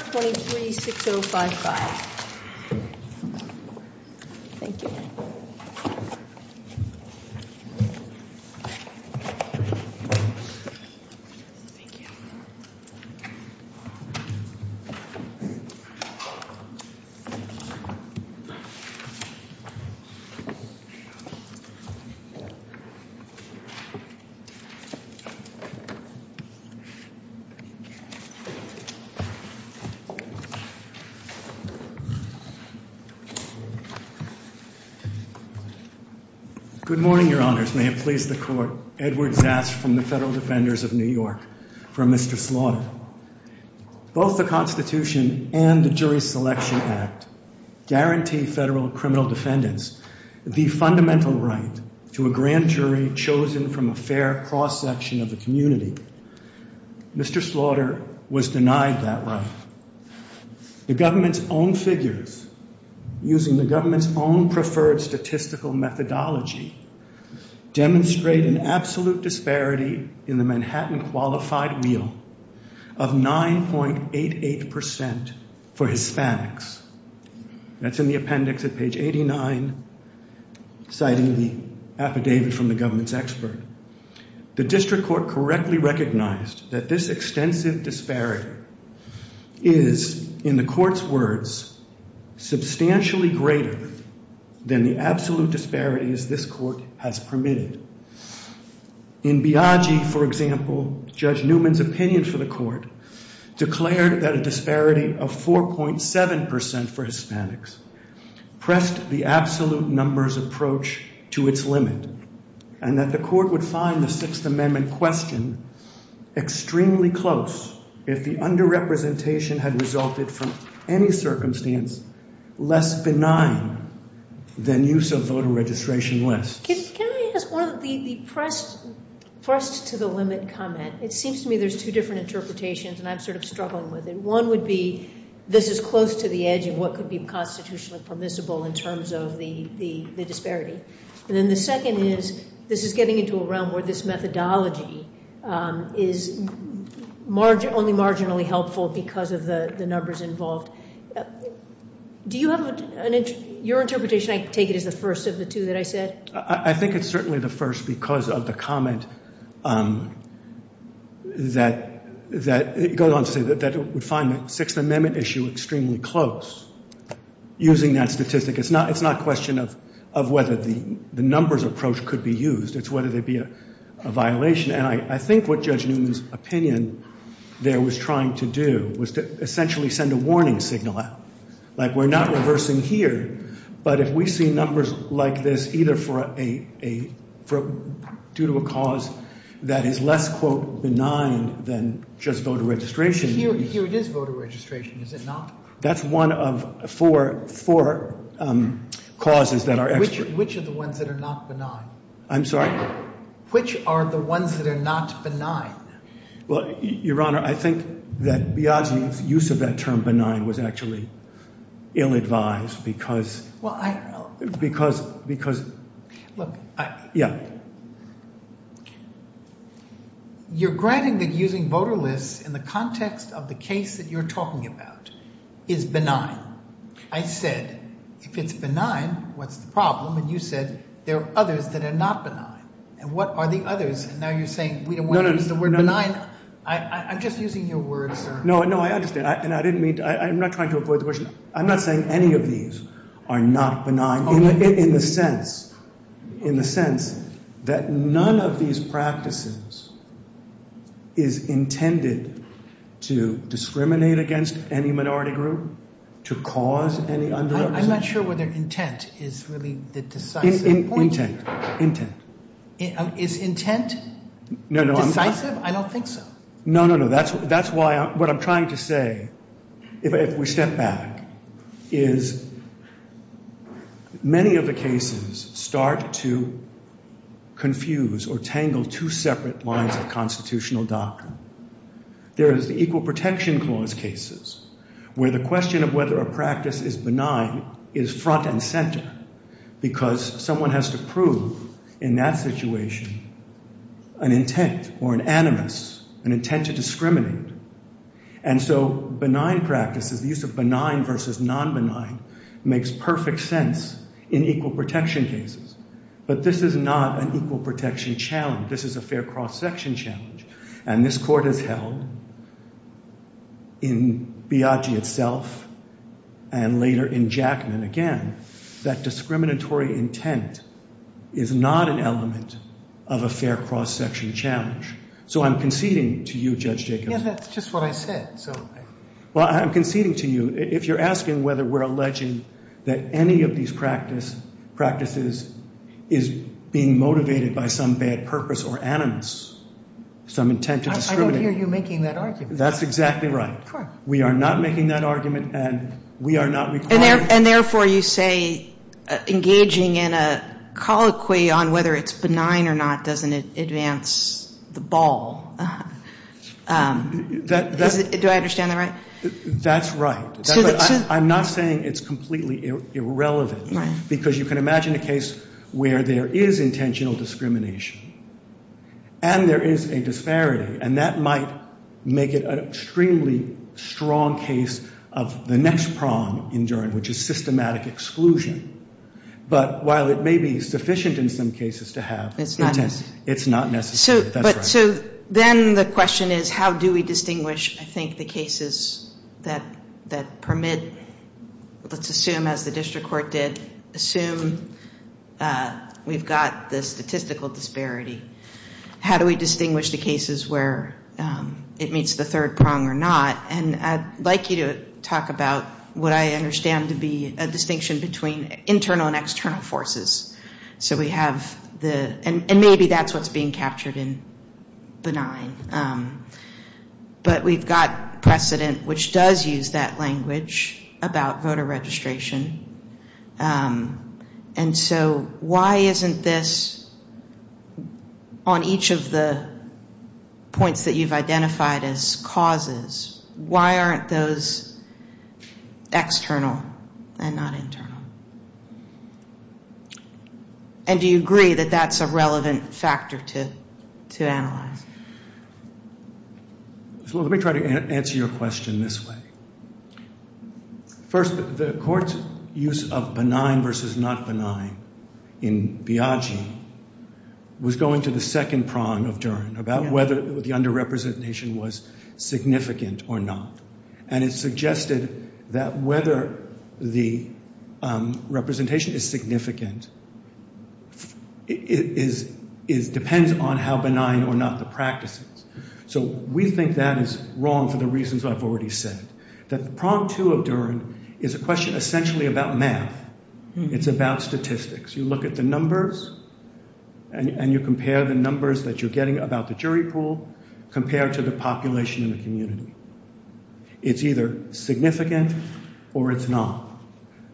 $23,605,000. Thank you. Good morning, your honors. May it please the court. Edward Zast from the Federal Defenders of New York for Mr. Slaughter. Both the Constitution and the Jury Selection Act guarantee federal criminal defendants the fundamental right to a grand jury chosen from a fair cross-section of the community. Mr. Slaughter was denied that right. The government's own figures, using the government's own preferred statistical methodology, demonstrate an absolute disparity in the Manhattan Qualified Wheel of 9.88% for Hispanics. That's in the appendix at page 89, citing the affidavit from the government's expert. The district court correctly recognized that this extensive disparity is, in the court's words, substantially greater than the absolute disparities this court has permitted. In Biagi, for example, Judge Newman's opinion for the court declared that a disparity of 4.7% for Hispanics pressed the absolute numbers approach to its limit, and that the court would find the Sixth Amendment question extremely close if the underrepresentation had resulted from any circumstance less benign than use of voter registration lists. Can I ask one of the pressed-to-the-limit comment? It seems to me there's two different interpretations, and I'm sort of struggling with it. One would be this is close to the edge of what could be constitutionally permissible in terms of the disparity. And then the second is this is getting into a realm where this methodology is only marginally helpful because of the numbers involved. Do you have an interpretation? I take it as the first of the two that I said. I think it's certainly the first because of the comment that goes on to say that it would find the Sixth Amendment issue extremely close. Using that statistic, it's not a question of whether the numbers approach could be used. It's whether there'd be a violation. And I think what Judge Newman's opinion there was trying to do was to essentially send a warning signal out, like we're not reversing here, but if we see numbers like this either due to a cause that is less, quote, benign than just voter registration. Here it is voter registration, is it not? That's one of four causes that are extra. Which are the ones that are not benign? I'm sorry? Which are the ones that are not benign? Well, Your Honor, I think that Biagi's use of that term benign was actually ill-advised because Well, I don't know. Because, because Look, I Yeah. You're granting that using voter lists in the context of the case that you're talking about is benign. I said, if it's benign, what's the problem? And you said there are others that are not benign. And what are the others? And now you're saying we don't want to use the word benign. I'm just using your word, sir. No, no, I understand. And I didn't mean to. I'm not trying to avoid the question. I'm not saying any of these are not benign. In the sense, in the sense that none of these practices is intended to discriminate against any minority group, to cause any underrepresentation. I'm not sure whether intent is really the decisive point. Intent, intent. Is intent decisive? I don't think so. No, no, no. That's, that's why what I'm trying to say, if we step back, is many of the cases start to confuse or tangle two separate lines of constitutional doctrine. There is the Equal Protection Clause cases, where the question of whether a practice is benign is front and center. Because someone has to prove in that situation an intent or an animus, an intent to discriminate. And so benign practices, the use of benign versus non-benign, makes perfect sense in equal protection cases. But this is not an equal protection challenge. This is a fair cross-section challenge. And this Court has held, in Biagi itself, and later in Jackman again, that discriminatory intent is not an element of a fair cross-section challenge. So I'm conceding to you, Judge Jacobs. Yeah, that's just what I said. Well, I'm conceding to you. If you're asking whether we're alleging that any of these practices is being motivated by some bad purpose or animus, some intent to discriminate. I don't hear you making that argument. That's exactly right. Sure. We are not making that argument, and we are not requiring. And therefore you say engaging in a colloquy on whether it's benign or not doesn't advance the ball. Do I understand that right? That's right. I'm not saying it's completely irrelevant. Because you can imagine a case where there is intentional discrimination, and there is a disparity. And that might make it an extremely strong case of the next prong in Durham, which is systematic exclusion. But while it may be sufficient in some cases to have intent, it's not necessary. So then the question is how do we distinguish, I think, the cases that permit, let's assume as the district court did, assume we've got the statistical disparity. How do we distinguish the cases where it meets the third prong or not? And I'd like you to talk about what I understand to be a distinction between internal and external forces. And maybe that's what's being captured in benign. But we've got precedent, which does use that language about voter registration. And so why isn't this on each of the points that you've identified as causes? Why aren't those external and not internal? And do you agree that that's a relevant factor to analyze? Let me try to answer your question this way. First, the court's use of benign versus not benign in Biagi was going to the second prong of Durham about whether the underrepresentation was significant or not. And it suggested that whether the representation is significant depends on how benign or not the practice is. So we think that is wrong for the reasons I've already said, that the prong two of Durham is a question essentially about math. It's about statistics. You look at the numbers and you compare the numbers that you're getting about the jury pool compared to the population in the community. It's either significant or it's not.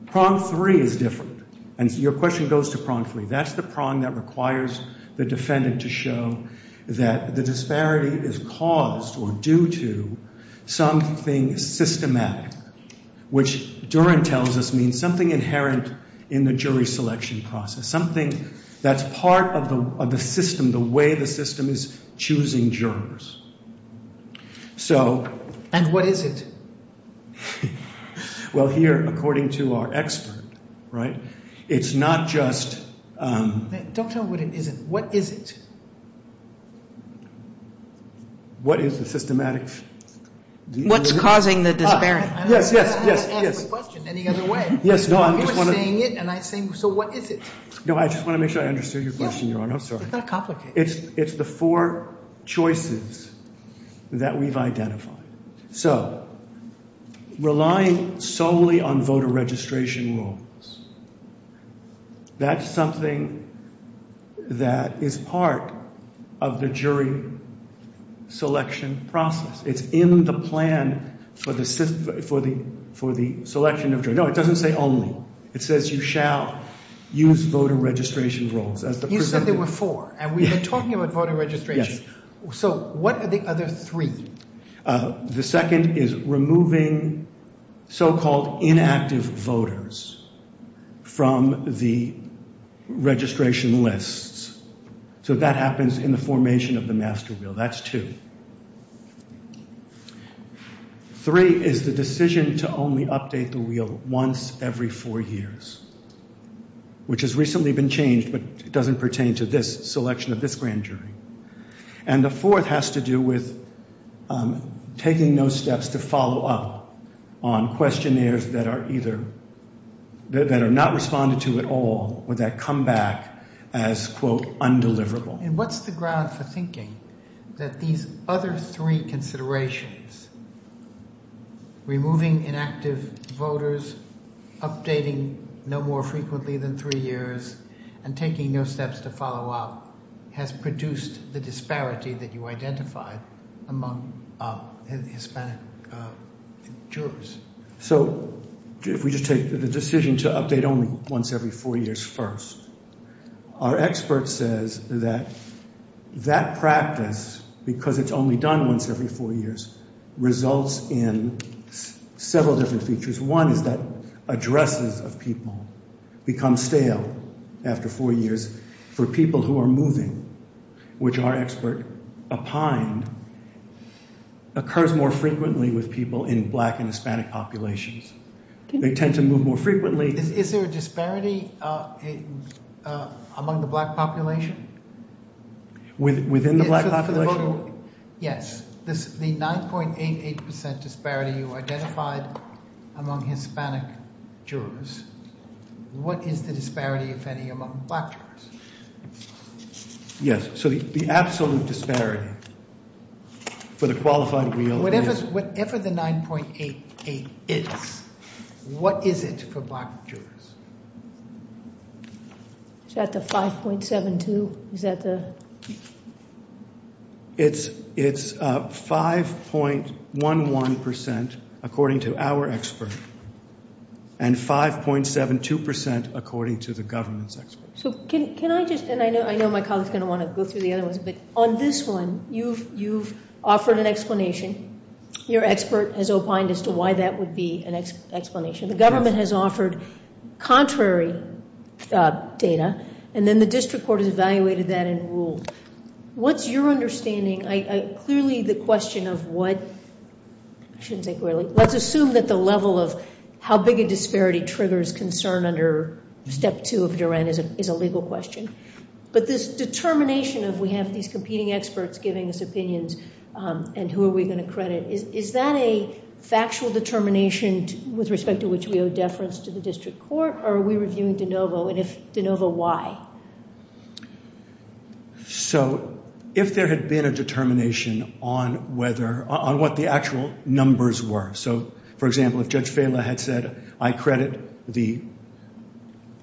Prong three is different. And your question goes to prong three. That's the prong that requires the defendant to show that the disparity is caused or due to something systematic, which Durham tells us means something inherent in the jury selection process. Something that's part of the system, the way the system is choosing jurors. And what is it? Well, here, according to our expert, right, it's not just... Don't tell me what it isn't. What is it? What is the systematic... What's causing the disparity? Yes, yes, yes, yes. I didn't ask the question any other way. Yes, no, I just want to... You were saying it and I was saying, so what is it? No, I just want to make sure I understood your question, Your Honor. I'm sorry. It's not complicated. It's the four choices that we've identified. So, relying solely on voter registration rules, that's something that is part of the jury selection process. It's in the plan for the selection of jurors. No, it doesn't say only. It says you shall use voter registration rules. You said there were four and we've been talking about voter registration. Yes. So, what are the other three? The second is removing so-called inactive voters from the registration lists. So, that happens in the formation of the master wheel. That's two. Three is the decision to only update the wheel once every four years, which has recently been changed, but it doesn't pertain to this selection of this grand jury. And the fourth has to do with taking no steps to follow up on questionnaires that are not responded to at all or that come back as, quote, undeliverable. And what's the ground for thinking that these other three considerations, removing inactive voters, updating no more frequently than three years, and taking no steps to follow up has produced the disparity that you identified among Hispanic jurors? So, if we just take the decision to update only once every four years first, our expert says that that practice, because it's only done once every four years, results in several different features. One is that addresses of people become stale after four years for people who are moving, which our expert opined occurs more frequently with people in black and Hispanic populations. They tend to move more frequently. Is there a disparity among the black population? Within the black population? Yes. The 9.88% disparity you identified among Hispanic jurors, what is the disparity, if any, among black jurors? Yes. So the absolute disparity for the qualified wheel is? Whatever the 9.88 is, what is it for black jurors? Is that the 5.72? Is that the? It's 5.11% according to our expert, and 5.72% according to the government's expert. So can I just, and I know my colleague is going to want to go through the other ones, but on this one you've offered an explanation. Your expert has opined as to why that would be an explanation. The government has offered contrary data, and then the district court has evaluated that and ruled. What's your understanding? Clearly the question of what, I shouldn't say clearly, let's assume that the level of how big a disparity triggers concern under Step 2 of Duran is a legal question. But this determination of we have these competing experts giving us opinions and who are we going to credit, is that a factual determination with respect to which we owe deference to the district court, or are we reviewing de novo, and if de novo, why? So if there had been a determination on whether, on what the actual numbers were, so for example if Judge Fela had said I credit the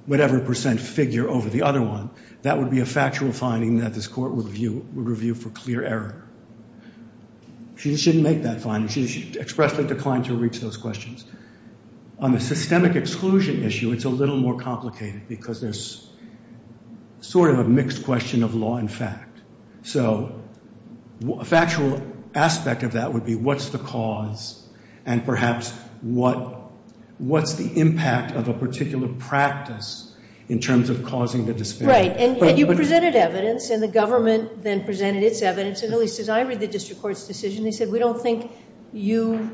whatever percent figure over the other one, that would be a factual finding that this court would review for clear error. She just didn't make that finding. She expressly declined to reach those questions. On the systemic exclusion issue, it's a little more complicated because there's sort of a mixed question of law and fact. So a factual aspect of that would be what's the cause and perhaps what's the impact of a particular practice in terms of causing the disparity. Right, and you presented evidence, and the government then presented its evidence, and at least as I read the district court's decision, they said we don't think you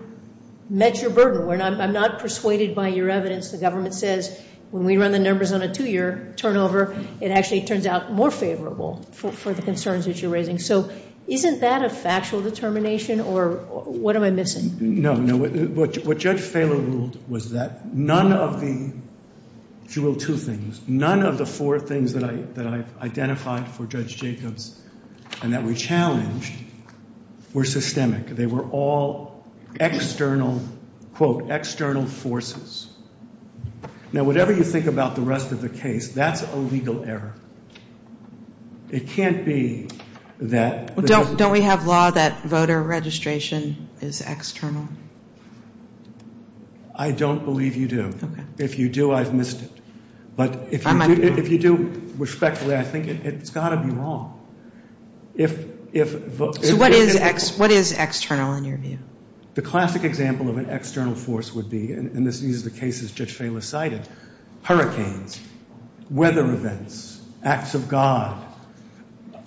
met your burden. I'm not persuaded by your evidence. The government says when we run the numbers on a two-year turnover, it actually turns out more favorable for the concerns that you're raising. So isn't that a factual determination, or what am I missing? No, no. What Judge Fela ruled was that none of the, if you will, two things, none of the four things that I've identified for Judge Jacobs and that we challenged were systemic. They were all external, quote, external forces. Now, whatever you think about the rest of the case, that's a legal error. It can't be that. Don't we have law that voter registration is external? I don't believe you do. If you do, I've missed it. But if you do respectfully, I think it's got to be wrong. So what is external in your view? The classic example of an external force would be, and these are the cases Judge Fela cited, hurricanes, weather events, acts of God,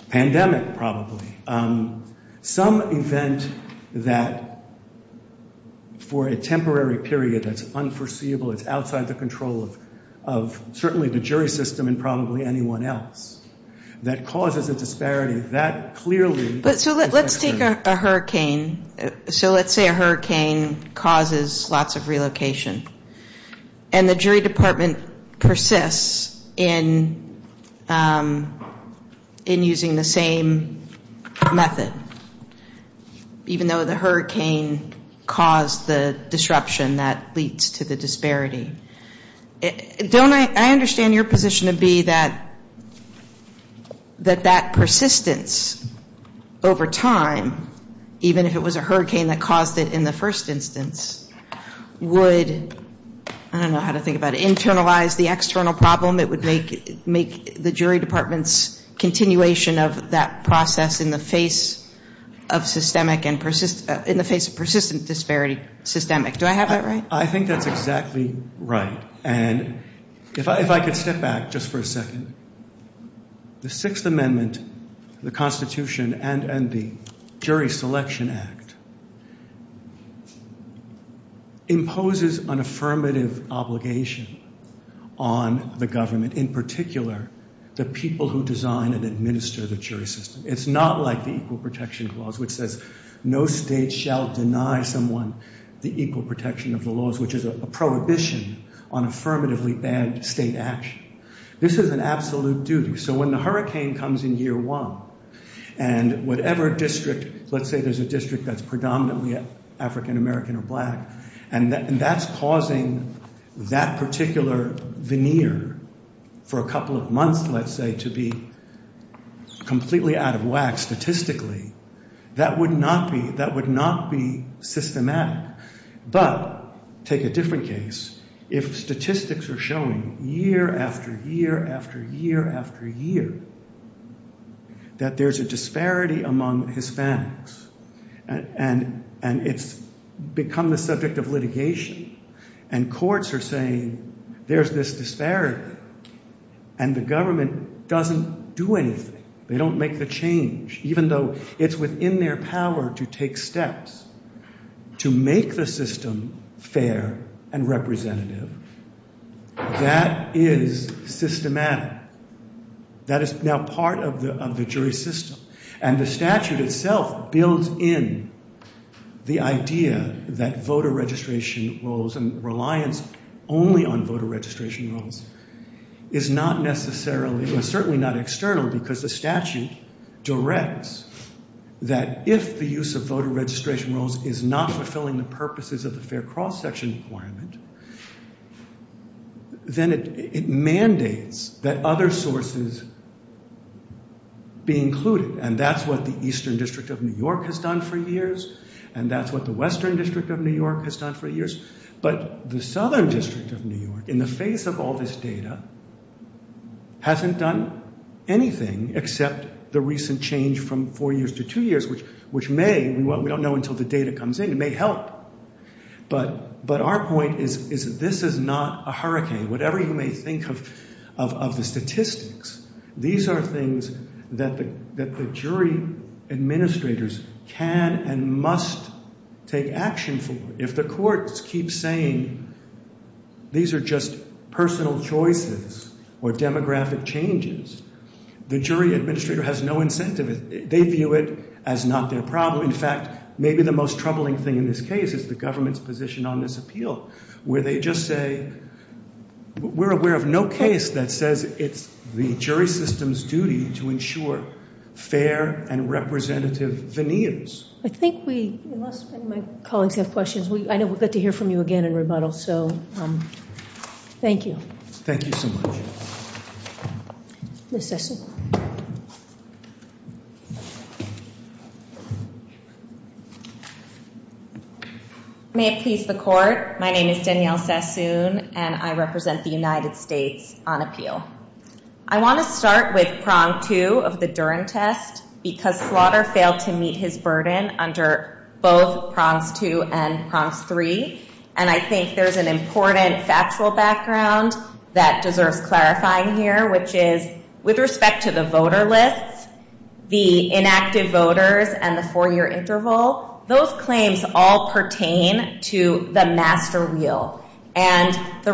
pandemic probably, some event that for a temporary period that's unforeseeable, it's outside the control of certainly the jury system and probably anyone else, that causes a disparity that clearly is external. But so let's take a hurricane. So let's say a hurricane causes lots of relocation. And the jury department persists in using the same method, even though the hurricane caused the disruption that leads to the disparity. I understand your position to be that that persistence over time, even if it was a hurricane that caused it in the first instance, would, I don't know how to think about it, internalize the external problem. It would make the jury department's continuation of that process in the face of systemic, in the face of persistent disparity systemic. Do I have that right? I think that's exactly right. And if I could step back just for a second. The Sixth Amendment, the Constitution, and the Jury Selection Act imposes an affirmative obligation on the government, in particular the people who design and administer the jury system. It's not like the Equal Protection Clause, which says, no state shall deny someone the equal protection of the laws, which is a prohibition on affirmatively bad state action. This is an absolute duty. So when the hurricane comes in year one, and whatever district, let's say there's a district that's predominantly African American or black, and that's causing that particular veneer for a couple of months, let's say, to be completely out of whack statistically, that would not be systematic. But take a different case. If statistics are showing year after year after year after year that there's a disparity among Hispanics, and it's become the subject of litigation, and courts are saying there's this disparity, and the government doesn't do anything. They don't make the change. Even though it's within their power to take steps to make the system fair and representative, that is systematic. That is now part of the jury system. And the statute itself builds in the idea that voter registration roles and reliance only on voter registration roles is not necessarily, certainly not external, because the statute directs that if the use of voter registration roles is not fulfilling the purposes of the fair cross-section requirement, then it mandates that other sources be included. And that's what the Eastern District of New York has done for years, and that's what the Western District of New York has done for years. But the Southern District of New York, in the face of all this data, hasn't done anything except the recent change from four years to two years, which may, we don't know until the data comes in, may help. But our point is this is not a hurricane. Whatever you may think of the statistics, these are things that the jury administrators can and must take action for. If the courts keep saying these are just personal choices or demographic changes, the jury administrator has no incentive. They view it as not their problem. In fact, maybe the most troubling thing in this case is the government's position on this appeal, where they just say we're aware of no case that says it's the jury system's duty to ensure fair and representative veneers. I think we, unless any of my colleagues have questions, I know we'll get to hear from you again in rebuttal. So thank you. Thank you so much. Ms. Sassoon. May it please the Court, my name is Danielle Sassoon, and I represent the United States on appeal. I want to start with prong two of the Duren test, because Slaughter failed to meet his burden under both prongs two and prongs three. And I think there's an important factual background that deserves clarifying here, which is with respect to the voter lists, the inactive voters, and the four-year interval, those claims all pertain to the master wheel. The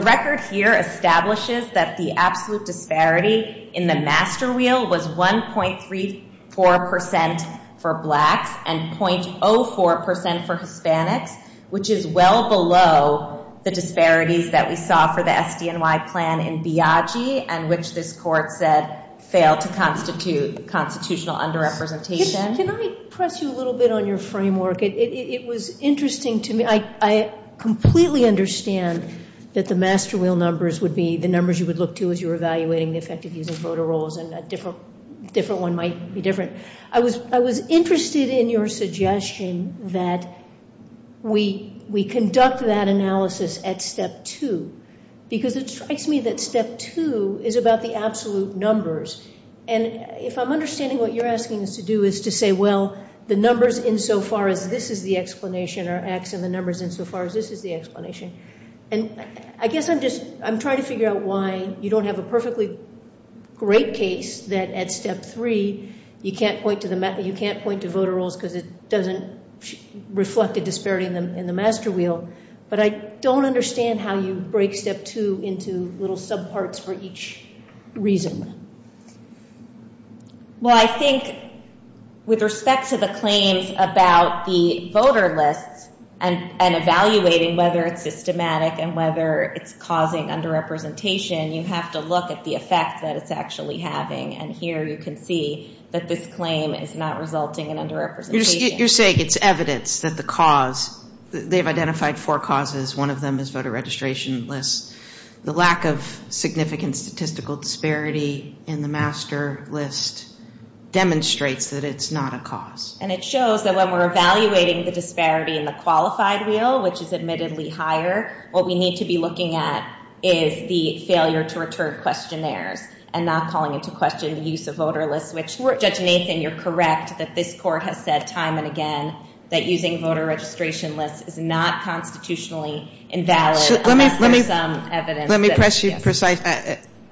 master wheel is 0.34% for blacks and 0.04% for Hispanics, which is well below the disparities that we saw for the SDNY plan in Biagi, and which this Court said failed to constitute constitutional under-representation. Can I press you a little bit on your framework? It was interesting to me. I completely understand that the master wheel numbers would be the numbers you would look to as you were evaluating the effect of using voter rolls and a different one might be different. I was interested in your suggestion that we conduct that analysis at step two, because it strikes me that step two is about the absolute numbers. And if I'm understanding what you're asking us to do is to say, well, the numbers insofar as this is the explanation are X and the numbers insofar as this is the explanation. And I guess I'm just trying to figure out why you don't have a perfectly great case that at step three you can't point to voter rolls because it doesn't reflect a disparity in the master wheel. But I don't understand how you break step two into little subparts for each reason. Well, I think with respect to the claims about the voter lists and evaluating whether it's systematic and whether it's causing underrepresentation, you have to look at the effect that it's actually having. And here you can see that this claim is not resulting in underrepresentation. You're saying it's evidence that the cause, they've identified four causes. One of them is voter registration lists. The lack of significant statistical disparity in the master list demonstrates that it's not a cause. And it shows that when we're evaluating the disparity in the qualified wheel, which is admittedly higher, what we need to be looking at is the failure to return questionnaires and not calling into question the use of voter lists, which Judge Nathan, you're correct that this court has said time and again that using voter registration lists is not constitutionally invalid unless there's some evidence. Let me press you precisely.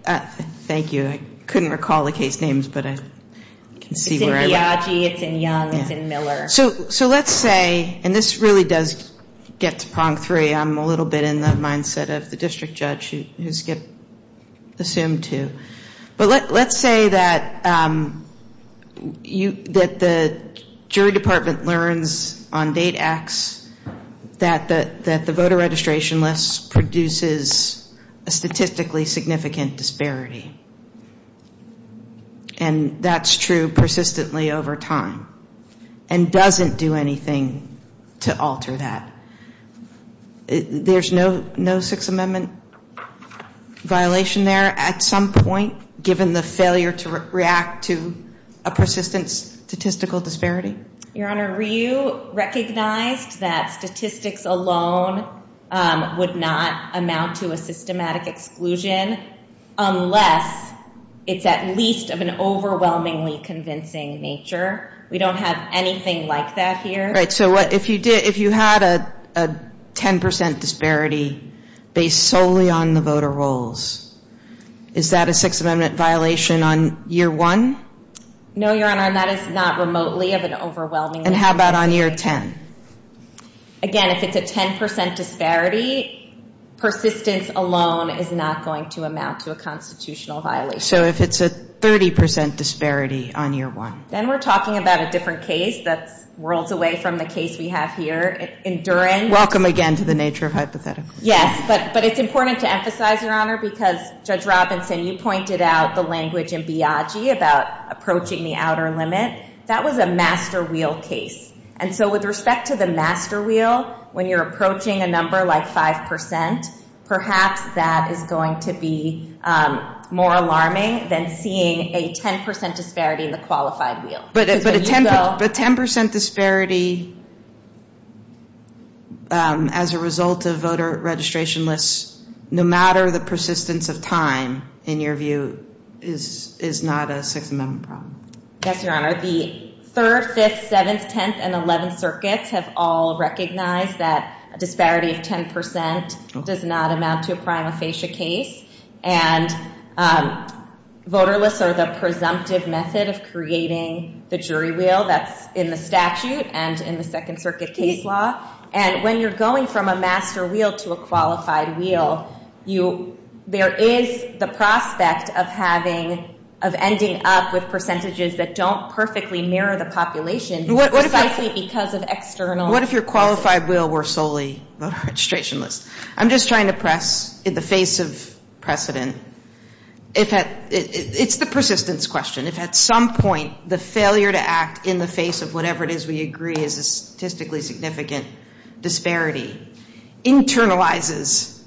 Thank you. I couldn't recall the case names, but I can see where I'm at. It's in Biagi. It's in Young. It's in Miller. So let's say, and this really does get to prong three. I'm a little bit in the mindset of the district judge, who Skip assumed to. But let's say that the jury department learns on date X that the voter registration lists produces a statistically significant disparity. And that's true persistently over time. And doesn't do anything to alter that. There's no Sixth Amendment violation there at some point, given the failure to react to a persistent statistical disparity? Your Honor, Ryu recognized that statistics alone would not amount to a systematic exclusion unless it's at least of an overwhelmingly convincing nature. We don't have anything like that here. Right. So if you had a 10% disparity based solely on the voter rolls, is that a Sixth Amendment violation on year one? No, Your Honor. And that is not remotely of an overwhelmingly convincing. And how about on year 10? Again, if it's a 10% disparity, persistence alone is not going to amount to a constitutional violation. So if it's a 30% disparity on year one. Then we're talking about a different case that's worlds away from the case we have here, endurance. Welcome again to the nature of hypotheticals. Yes, but it's important to emphasize, Your Honor, because Judge Robinson, you pointed out the language in Biagi about approaching the outer limit. That was a master wheel case. And so with respect to the master wheel, when you're approaching a number like 5%, perhaps that is going to be more alarming than seeing a 10% disparity in the qualified wheel. But a 10% disparity as a result of voter registration lists, no matter the persistence of time, in your view, is not a Sixth Amendment problem. Yes, Your Honor. The 3rd, 5th, 7th, 10th, and 11th circuits have all recognized that a disparity of 10% does not amount to a prima facie case. And voter lists are the presumptive method of creating the jury wheel that's in the statute and in the Second Circuit case law. And when you're going from a master wheel to a qualified wheel, there is the prospect of ending up with percentages that don't perfectly mirror the population precisely because of external factors. What if your qualified wheel were solely voter registration lists? I'm just trying to press in the face of precedent. It's the persistence question. If at some point the failure to act in the face of whatever it is we agree is a statistically significant disparity internalizes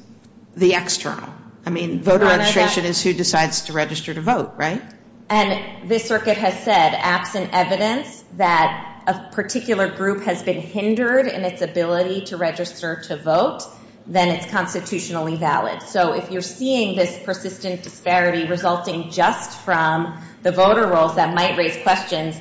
the external. I mean, voter registration is who decides to register to vote, right? And this circuit has said, absent evidence, that a particular group has been hindered in its ability to register to vote, then it's constitutionally valid. So if you're seeing this persistent disparity resulting just from the voter rolls that might raise questions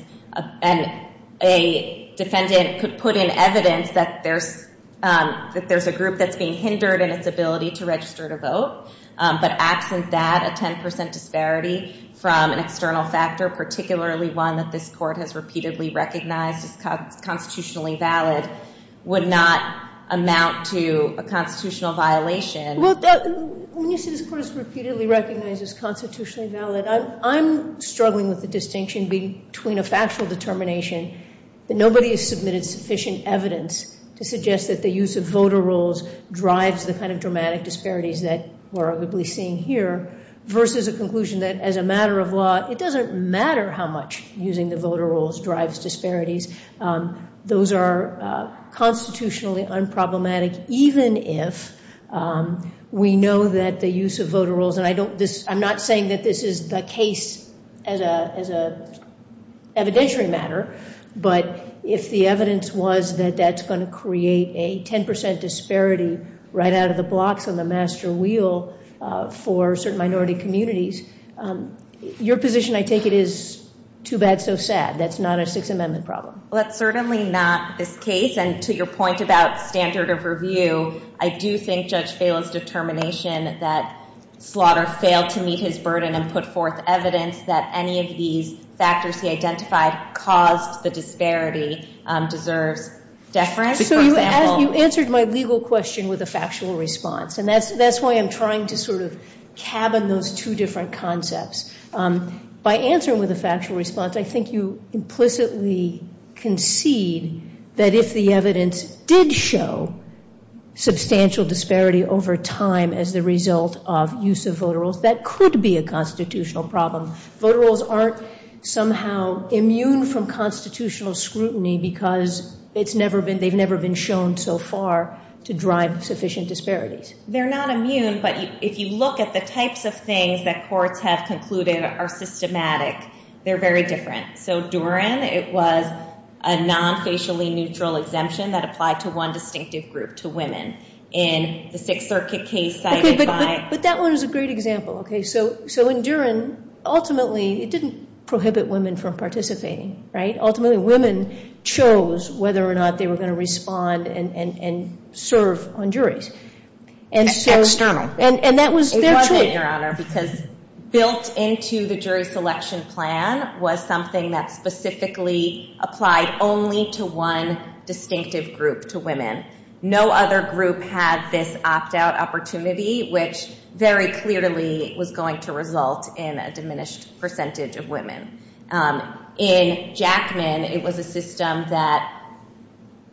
and a defendant could put in evidence that there's a group that's being hindered in its ability to register to vote, but absent that, a 10% disparity from an external factor, particularly one that this Court has repeatedly recognized is constitutionally valid, would not amount to a constitutional violation. When you say this Court has repeatedly recognized it's constitutionally valid, I'm struggling with the distinction between a factual determination that nobody has submitted sufficient evidence to suggest that the use of voter rolls drives the kind of dramatic disparities that we're arguably seeing here versus a conclusion that as a matter of law, it doesn't matter how much using the voter rolls drives disparities. Those are constitutionally unproblematic, even if we know that the use of voter rolls, and I'm not saying that this is the case as an evidentiary matter, but if the evidence was that that's going to create a 10% disparity right out of the blocks on the master wheel for certain minority communities, your position, I take it, is too bad, so sad. That's not a Sixth Amendment problem. Well, that's certainly not this case, and to your point about standard of review, I do think Judge Phelan's determination that Slaughter failed to meet his burden and put forth evidence that any of these factors he identified caused the disparity deserves deference. So you answered my legal question with a factual response, and that's why I'm trying to sort of cabin those two different concepts. By answering with a factual response, I think you implicitly concede that if the evidence did show substantial disparity over time as the result of use of voter rolls, that could be a constitutional problem. Voter rolls aren't somehow immune from constitutional scrutiny because they've never been shown so far to drive sufficient disparities. They're not immune, but if you look at the types of things that courts have concluded are systematic, they're very different. So, Durin, it was a non-facially neutral exemption that applied to one distinctive group, to women, in the Sixth Circuit case cited by— Okay, but that one is a great example, okay? So, in Durin, ultimately, it didn't prohibit women from participating, right? Ultimately, women chose whether or not they were going to respond and serve on juries. External. And that was their choice. It wasn't, Your Honor, because built into the jury selection plan was something that specifically applied only to one distinctive group, to women. No other group had this opt-out opportunity, which very clearly was going to result in a diminished percentage of women. In Jackman, it was a system that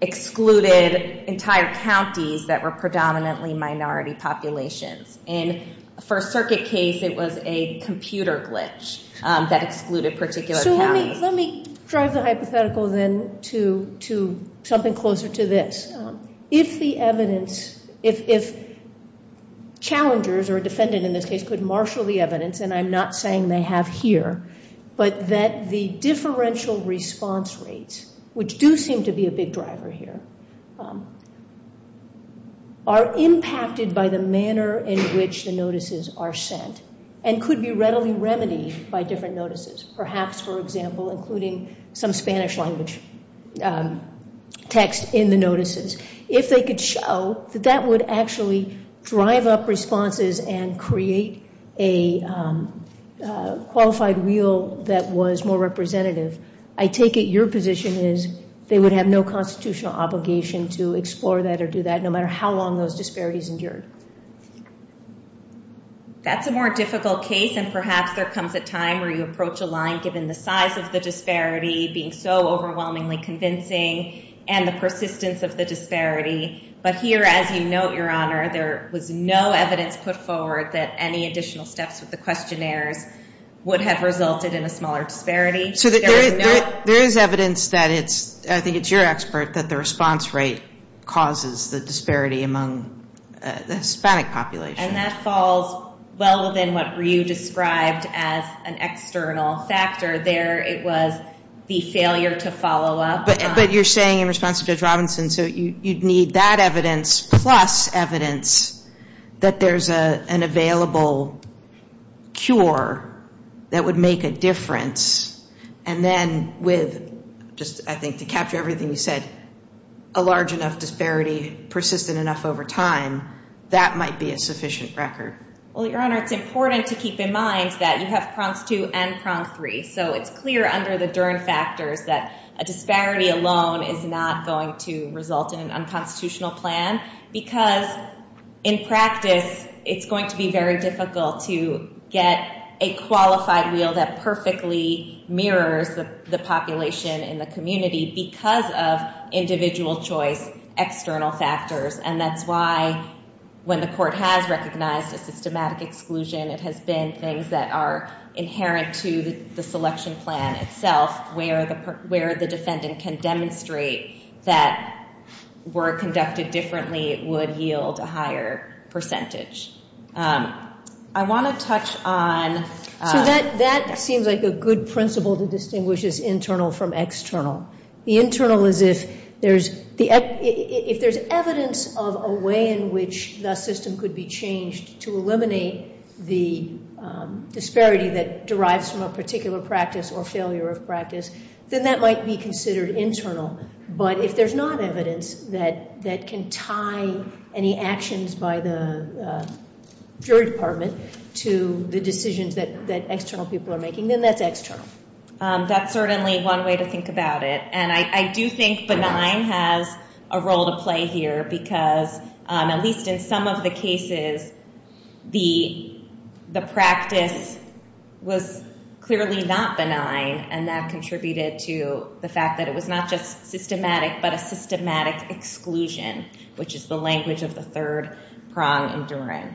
excluded entire counties that were predominantly minority populations. In the First Circuit case, it was a computer glitch that excluded particular counties. So, let me drive the hypothetical then to something closer to this. If the evidence—if challengers, or a defendant in this case, could marshal the evidence, and I'm not saying they have here, but that the differential response rates, which do seem to be a big driver here, are impacted by the manner in which the notices are sent and could be readily remedied by different notices. Perhaps, for example, including some Spanish language text in the notices. If they could show that that would actually drive up responses and create a qualified wheel that was more representative, I take it your position is they would have no constitutional obligation to explore that or do that, no matter how long those disparities endured. That's a more difficult case, and perhaps there comes a time where you approach a line, given the size of the disparity, being so overwhelmingly convincing, and the persistence of the disparity. But here, as you note, Your Honor, there was no evidence put forward that any additional steps with the questionnaires would have resulted in a smaller disparity. There is evidence that it's—I think it's your expert—that the response rate causes the disparity among the Hispanic population. And that falls well within what Ryu described as an external factor there. It was the failure to follow up. But you're saying in response to Judge Robinson, so you'd need that evidence plus evidence that there's an available cure that would make a difference. And then with—just, I think, to capture everything you said—a large enough disparity persistent enough over time, that might be a sufficient record. Well, Your Honor, it's important to keep in mind that you have prong two and prong three. So it's clear under the Dern factors that a disparity alone is not going to result in an unconstitutional plan, because in practice, it's going to be very difficult to get a qualified wheel that perfectly mirrors the population in the community because of individual choice, external factors. And that's why, when the Court has recognized a systematic exclusion, it has been things that are inherent to the selection plan itself, where the defendant can demonstrate that were conducted differently would yield a higher percentage. I want to touch on— So that seems like a good principle to distinguish this internal from external. The internal is if there's evidence of a way in which the system could be changed to eliminate the disparity that derives from a particular practice or failure of practice, then that might be considered internal. But if there's not evidence that can tie any actions by the jury department to the decisions that external people are making, then that's external. That's certainly one way to think about it. And I do think benign has a role to play here because, at least in some of the cases, the practice was clearly not benign. And that contributed to the fact that it was not just systematic, but a systematic exclusion, which is the language of the third prong in Duren.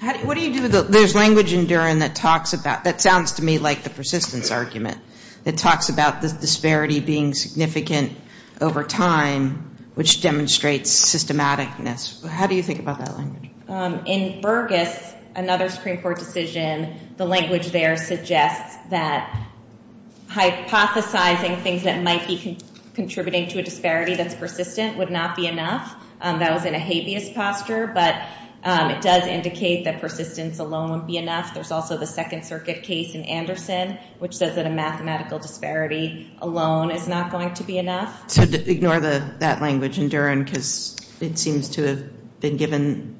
There's language in Duren that sounds to me like the persistence argument. It talks about the disparity being significant over time, which demonstrates systematicness. How do you think about that language? In Burgess, another Supreme Court decision, the language there suggests that hypothesizing things that might be contributing to a disparity that's persistent would not be enough. That was in a habeas posture, but it does indicate that persistence alone would be enough. There's also the Second Circuit case in Anderson, which says that a mathematical disparity alone is not going to be enough. So ignore that language in Duren because it seems to have been given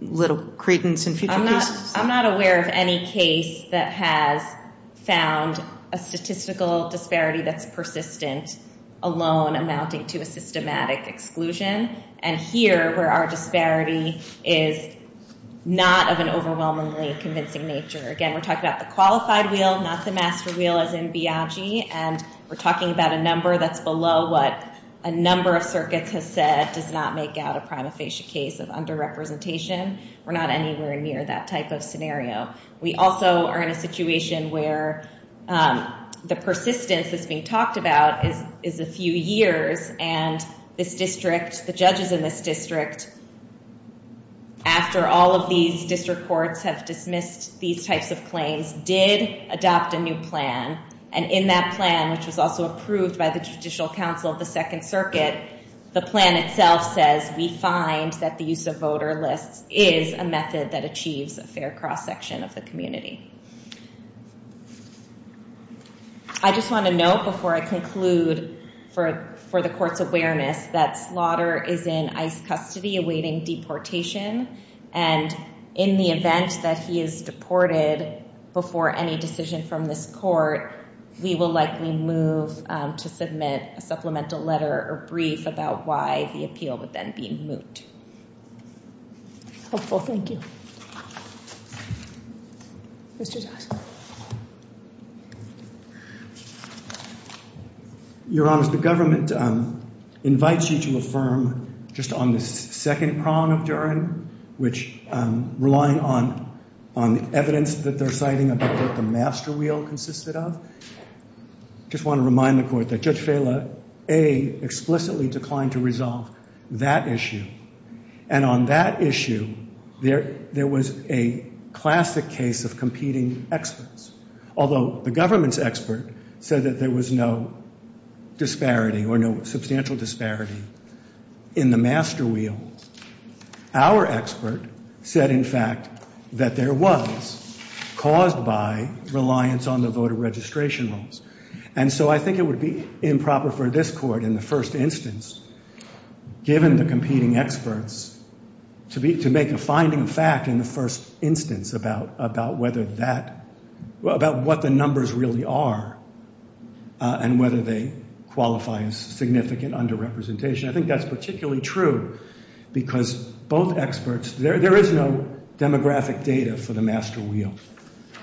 little credence in future cases. I'm not aware of any case that has found a statistical disparity that's persistent alone amounting to systematic exclusion. And here, where our disparity is not of an overwhelmingly convincing nature. Again, we're talking about the qualified wheel, not the master wheel as in Biagi. And we're talking about a number that's below what a number of circuits have said does not make out a prima facie case of underrepresentation. We're not anywhere near that type of scenario. We also are in a situation where the persistence that's being talked about is a few years. And this district, the judges in this district, after all of these district courts have dismissed these types of claims, did adopt a new plan. And in that plan, which was also approved by the Judicial Council of the Second Circuit, the plan itself says we find that the use of voter lists is a method that achieves a fair cross-section of the community. I just want to note before I conclude for the court's awareness that Slaughter is in ICE custody awaiting deportation. And in the event that he is deported before any decision from this court, we will likely move to submit a supplemental letter or brief about why the appeal would then be moot. Hopeful. Thank you. Mr. Zoskow. Your Honor, the government invites you to affirm just on the second prong of Duren, which relying on the evidence that they're citing about what the master wheel consisted of, I just want to remind the court that Judge Fela, A, explicitly declined to resolve that issue. And on that issue, there was a classic case of competing experts. Although the government's expert said that there was no disparity or no substantial disparity in the master wheel, our expert said, in fact, that there was, caused by reliance on the voter registration rolls. And so I think it would be improper for this court in the first instance, given the competing experts, to make a finding of fact in the first instance about whether that, about what the numbers really are, and whether they qualify as significant under-representation. I think that's particularly true because both experts, there is no demographic data for the master wheel.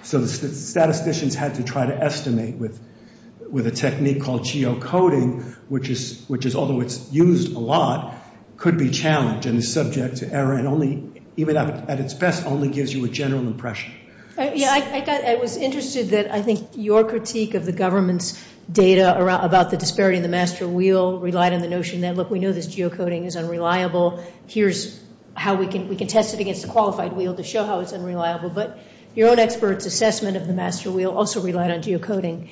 So the statisticians had to try to estimate with a technique called geocoding, which is, although it's used a lot, could be challenged and is subject to error and only, even at its best, only gives you a general impression. Yeah, I was interested that I think your critique of the government's data about the disparity in the master wheel relied on the notion that, look, we know this geocoding is unreliable. Here's how we can test it against a qualified wheel to show how it's unreliable. But your own expert's assessment of the master wheel also relied on geocoding.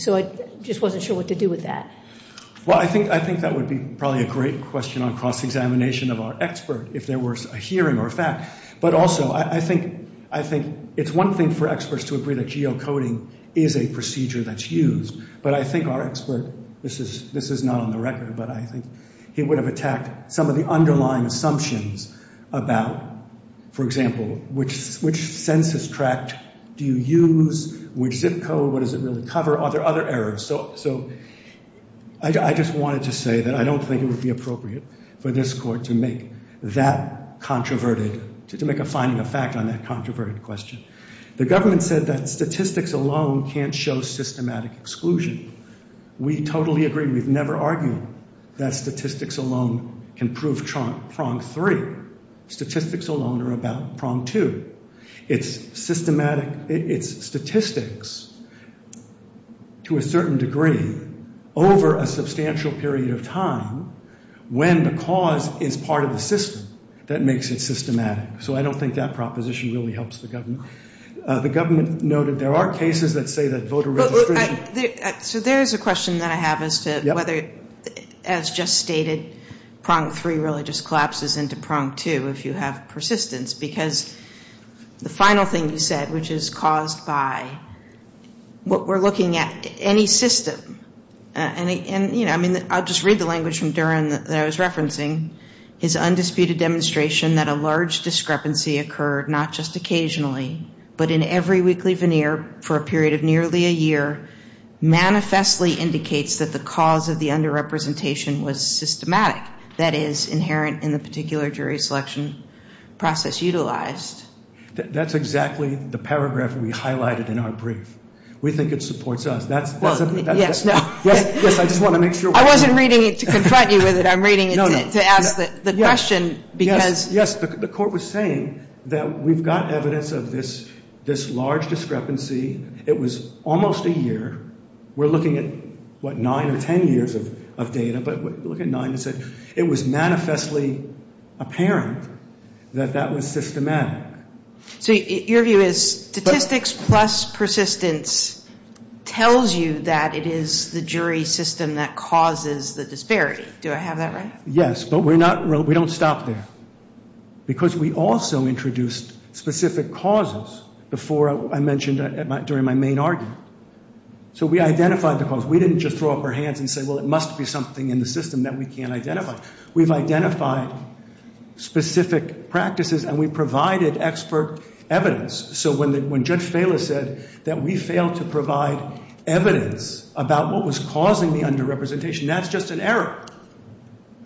So I just wasn't sure what to do with that. Well, I think that would be probably a great question on cross-examination of our expert if there were a hearing or a fact. But also, I think it's one thing for experts to agree that geocoding is a procedure that's used. But I think our expert, this is not on the record, but I think he would have attacked some of the underlying assumptions about, for example, which census tract do you use, which zip code, what does it really cover, are there other errors? So I just wanted to say that I don't think it would be appropriate for this court to make that controverted, to make a finding of fact on that controverted question. The government said that statistics alone can't show systematic exclusion. We totally agree. We've never argued that statistics alone can prove prong three. Statistics alone are about prong two. It's statistics to a certain degree over a substantial period of time when the cause is part of the system that makes it systematic. So I don't think that proposition really helps the government. The government noted there are cases that say that voter registration. So there is a question that I have as to whether, as just stated, prong three really just collapses into prong two if you have persistence. Because the final thing you said, which is caused by what we're looking at, any system, and I'll just read the language from Duran that I was referencing, his undisputed demonstration that a large discrepancy occurred not just occasionally but in every weekly veneer for a period of nearly a year manifestly indicates that the cause of the underrepresentation was systematic, that is, inherent in the particular jury selection process utilized. That's exactly the paragraph we highlighted in our brief. We think it supports us. Yes, I just want to make sure. I wasn't reading it to confront you with it. I'm reading it to ask the question. Yes, the court was saying that we've got evidence of this large discrepancy. It was almost a year. We're looking at, what, nine or ten years of data, but look at nine. It was manifestly apparent that that was systematic. So your view is statistics plus persistence tells you that it is the jury system that causes the disparity. Do I have that right? Yes, but we don't stop there, because we also introduced specific causes before I mentioned during my main argument. So we identified the cause. We didn't just throw up our hands and say, well, it must be something in the system that we can't identify. We've identified specific practices, and we've provided expert evidence. So when Judge Fela said that we failed to provide evidence about what was causing the underrepresentation, that's just an error.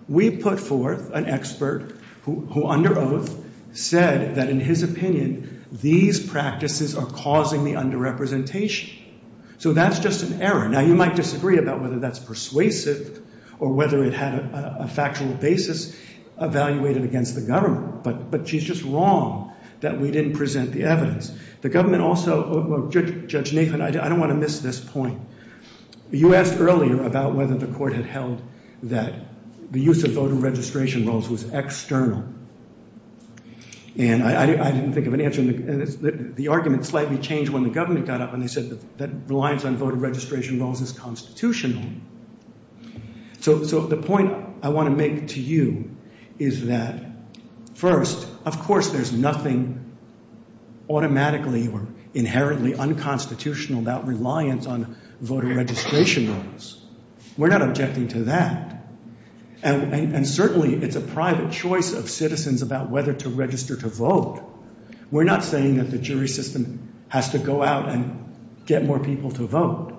We put forth an expert who, under oath, said that, in his opinion, these practices are causing the underrepresentation. So that's just an error. Now, you might disagree about whether that's persuasive or whether it had a factual basis evaluated against the government, but she's just wrong that we didn't present the evidence. The government also, Judge Nathan, I don't want to miss this point. You asked earlier about whether the court had held that the use of voter registration rolls was external, and I didn't think of an answer, and the argument slightly changed when the government got up and they said that reliance on voter registration rolls is constitutional. So the point I want to make to you is that, first, of course there's nothing automatically or inherently unconstitutional about reliance on voter registration rolls. We're not objecting to that, and certainly it's a private choice of citizens about whether to register to vote. We're not saying that the jury system has to go out and get more people to vote,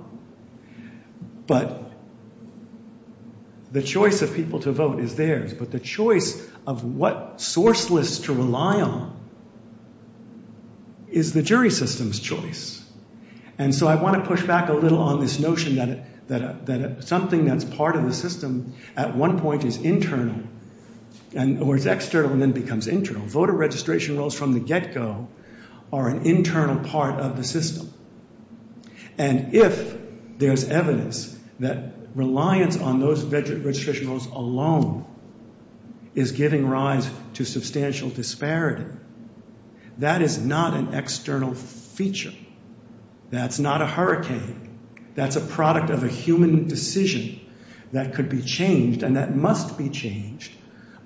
but the choice of people to vote is theirs, but the choice of what sourceless to rely on is the jury system's choice, and so I want to push back a little on this notion that something that's part of the system at one point is external and then becomes internal. Voter registration rolls from the get-go are an internal part of the system, and if there's evidence that reliance on those registration rolls alone is giving rise to substantial disparity, that is not an external feature. That's not a hurricane. That's a product of a human decision that could be changed and that must be changed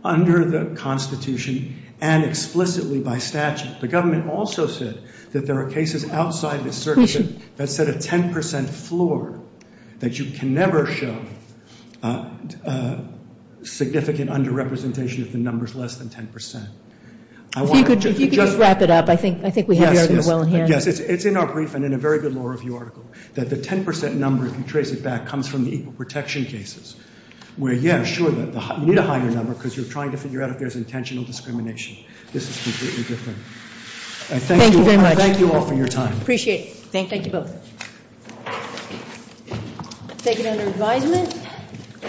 under the Constitution and explicitly by statute. The government also said that there are cases outside the circuit that set a 10 percent floor that you can never show significant under-representation if the number's less than 10 percent. If you could just wrap it up, I think we have the argument well in hand. Yes, it's in our brief and in a very good law review article that the 10 percent number, if you trace it back, comes from the equal protection cases, where yes, sure, you need a higher number because you're trying to figure out if there's intentional discrimination. This is completely different. Thank you very much. I thank you all for your time. Appreciate it. Thank you both. Take it under advisement.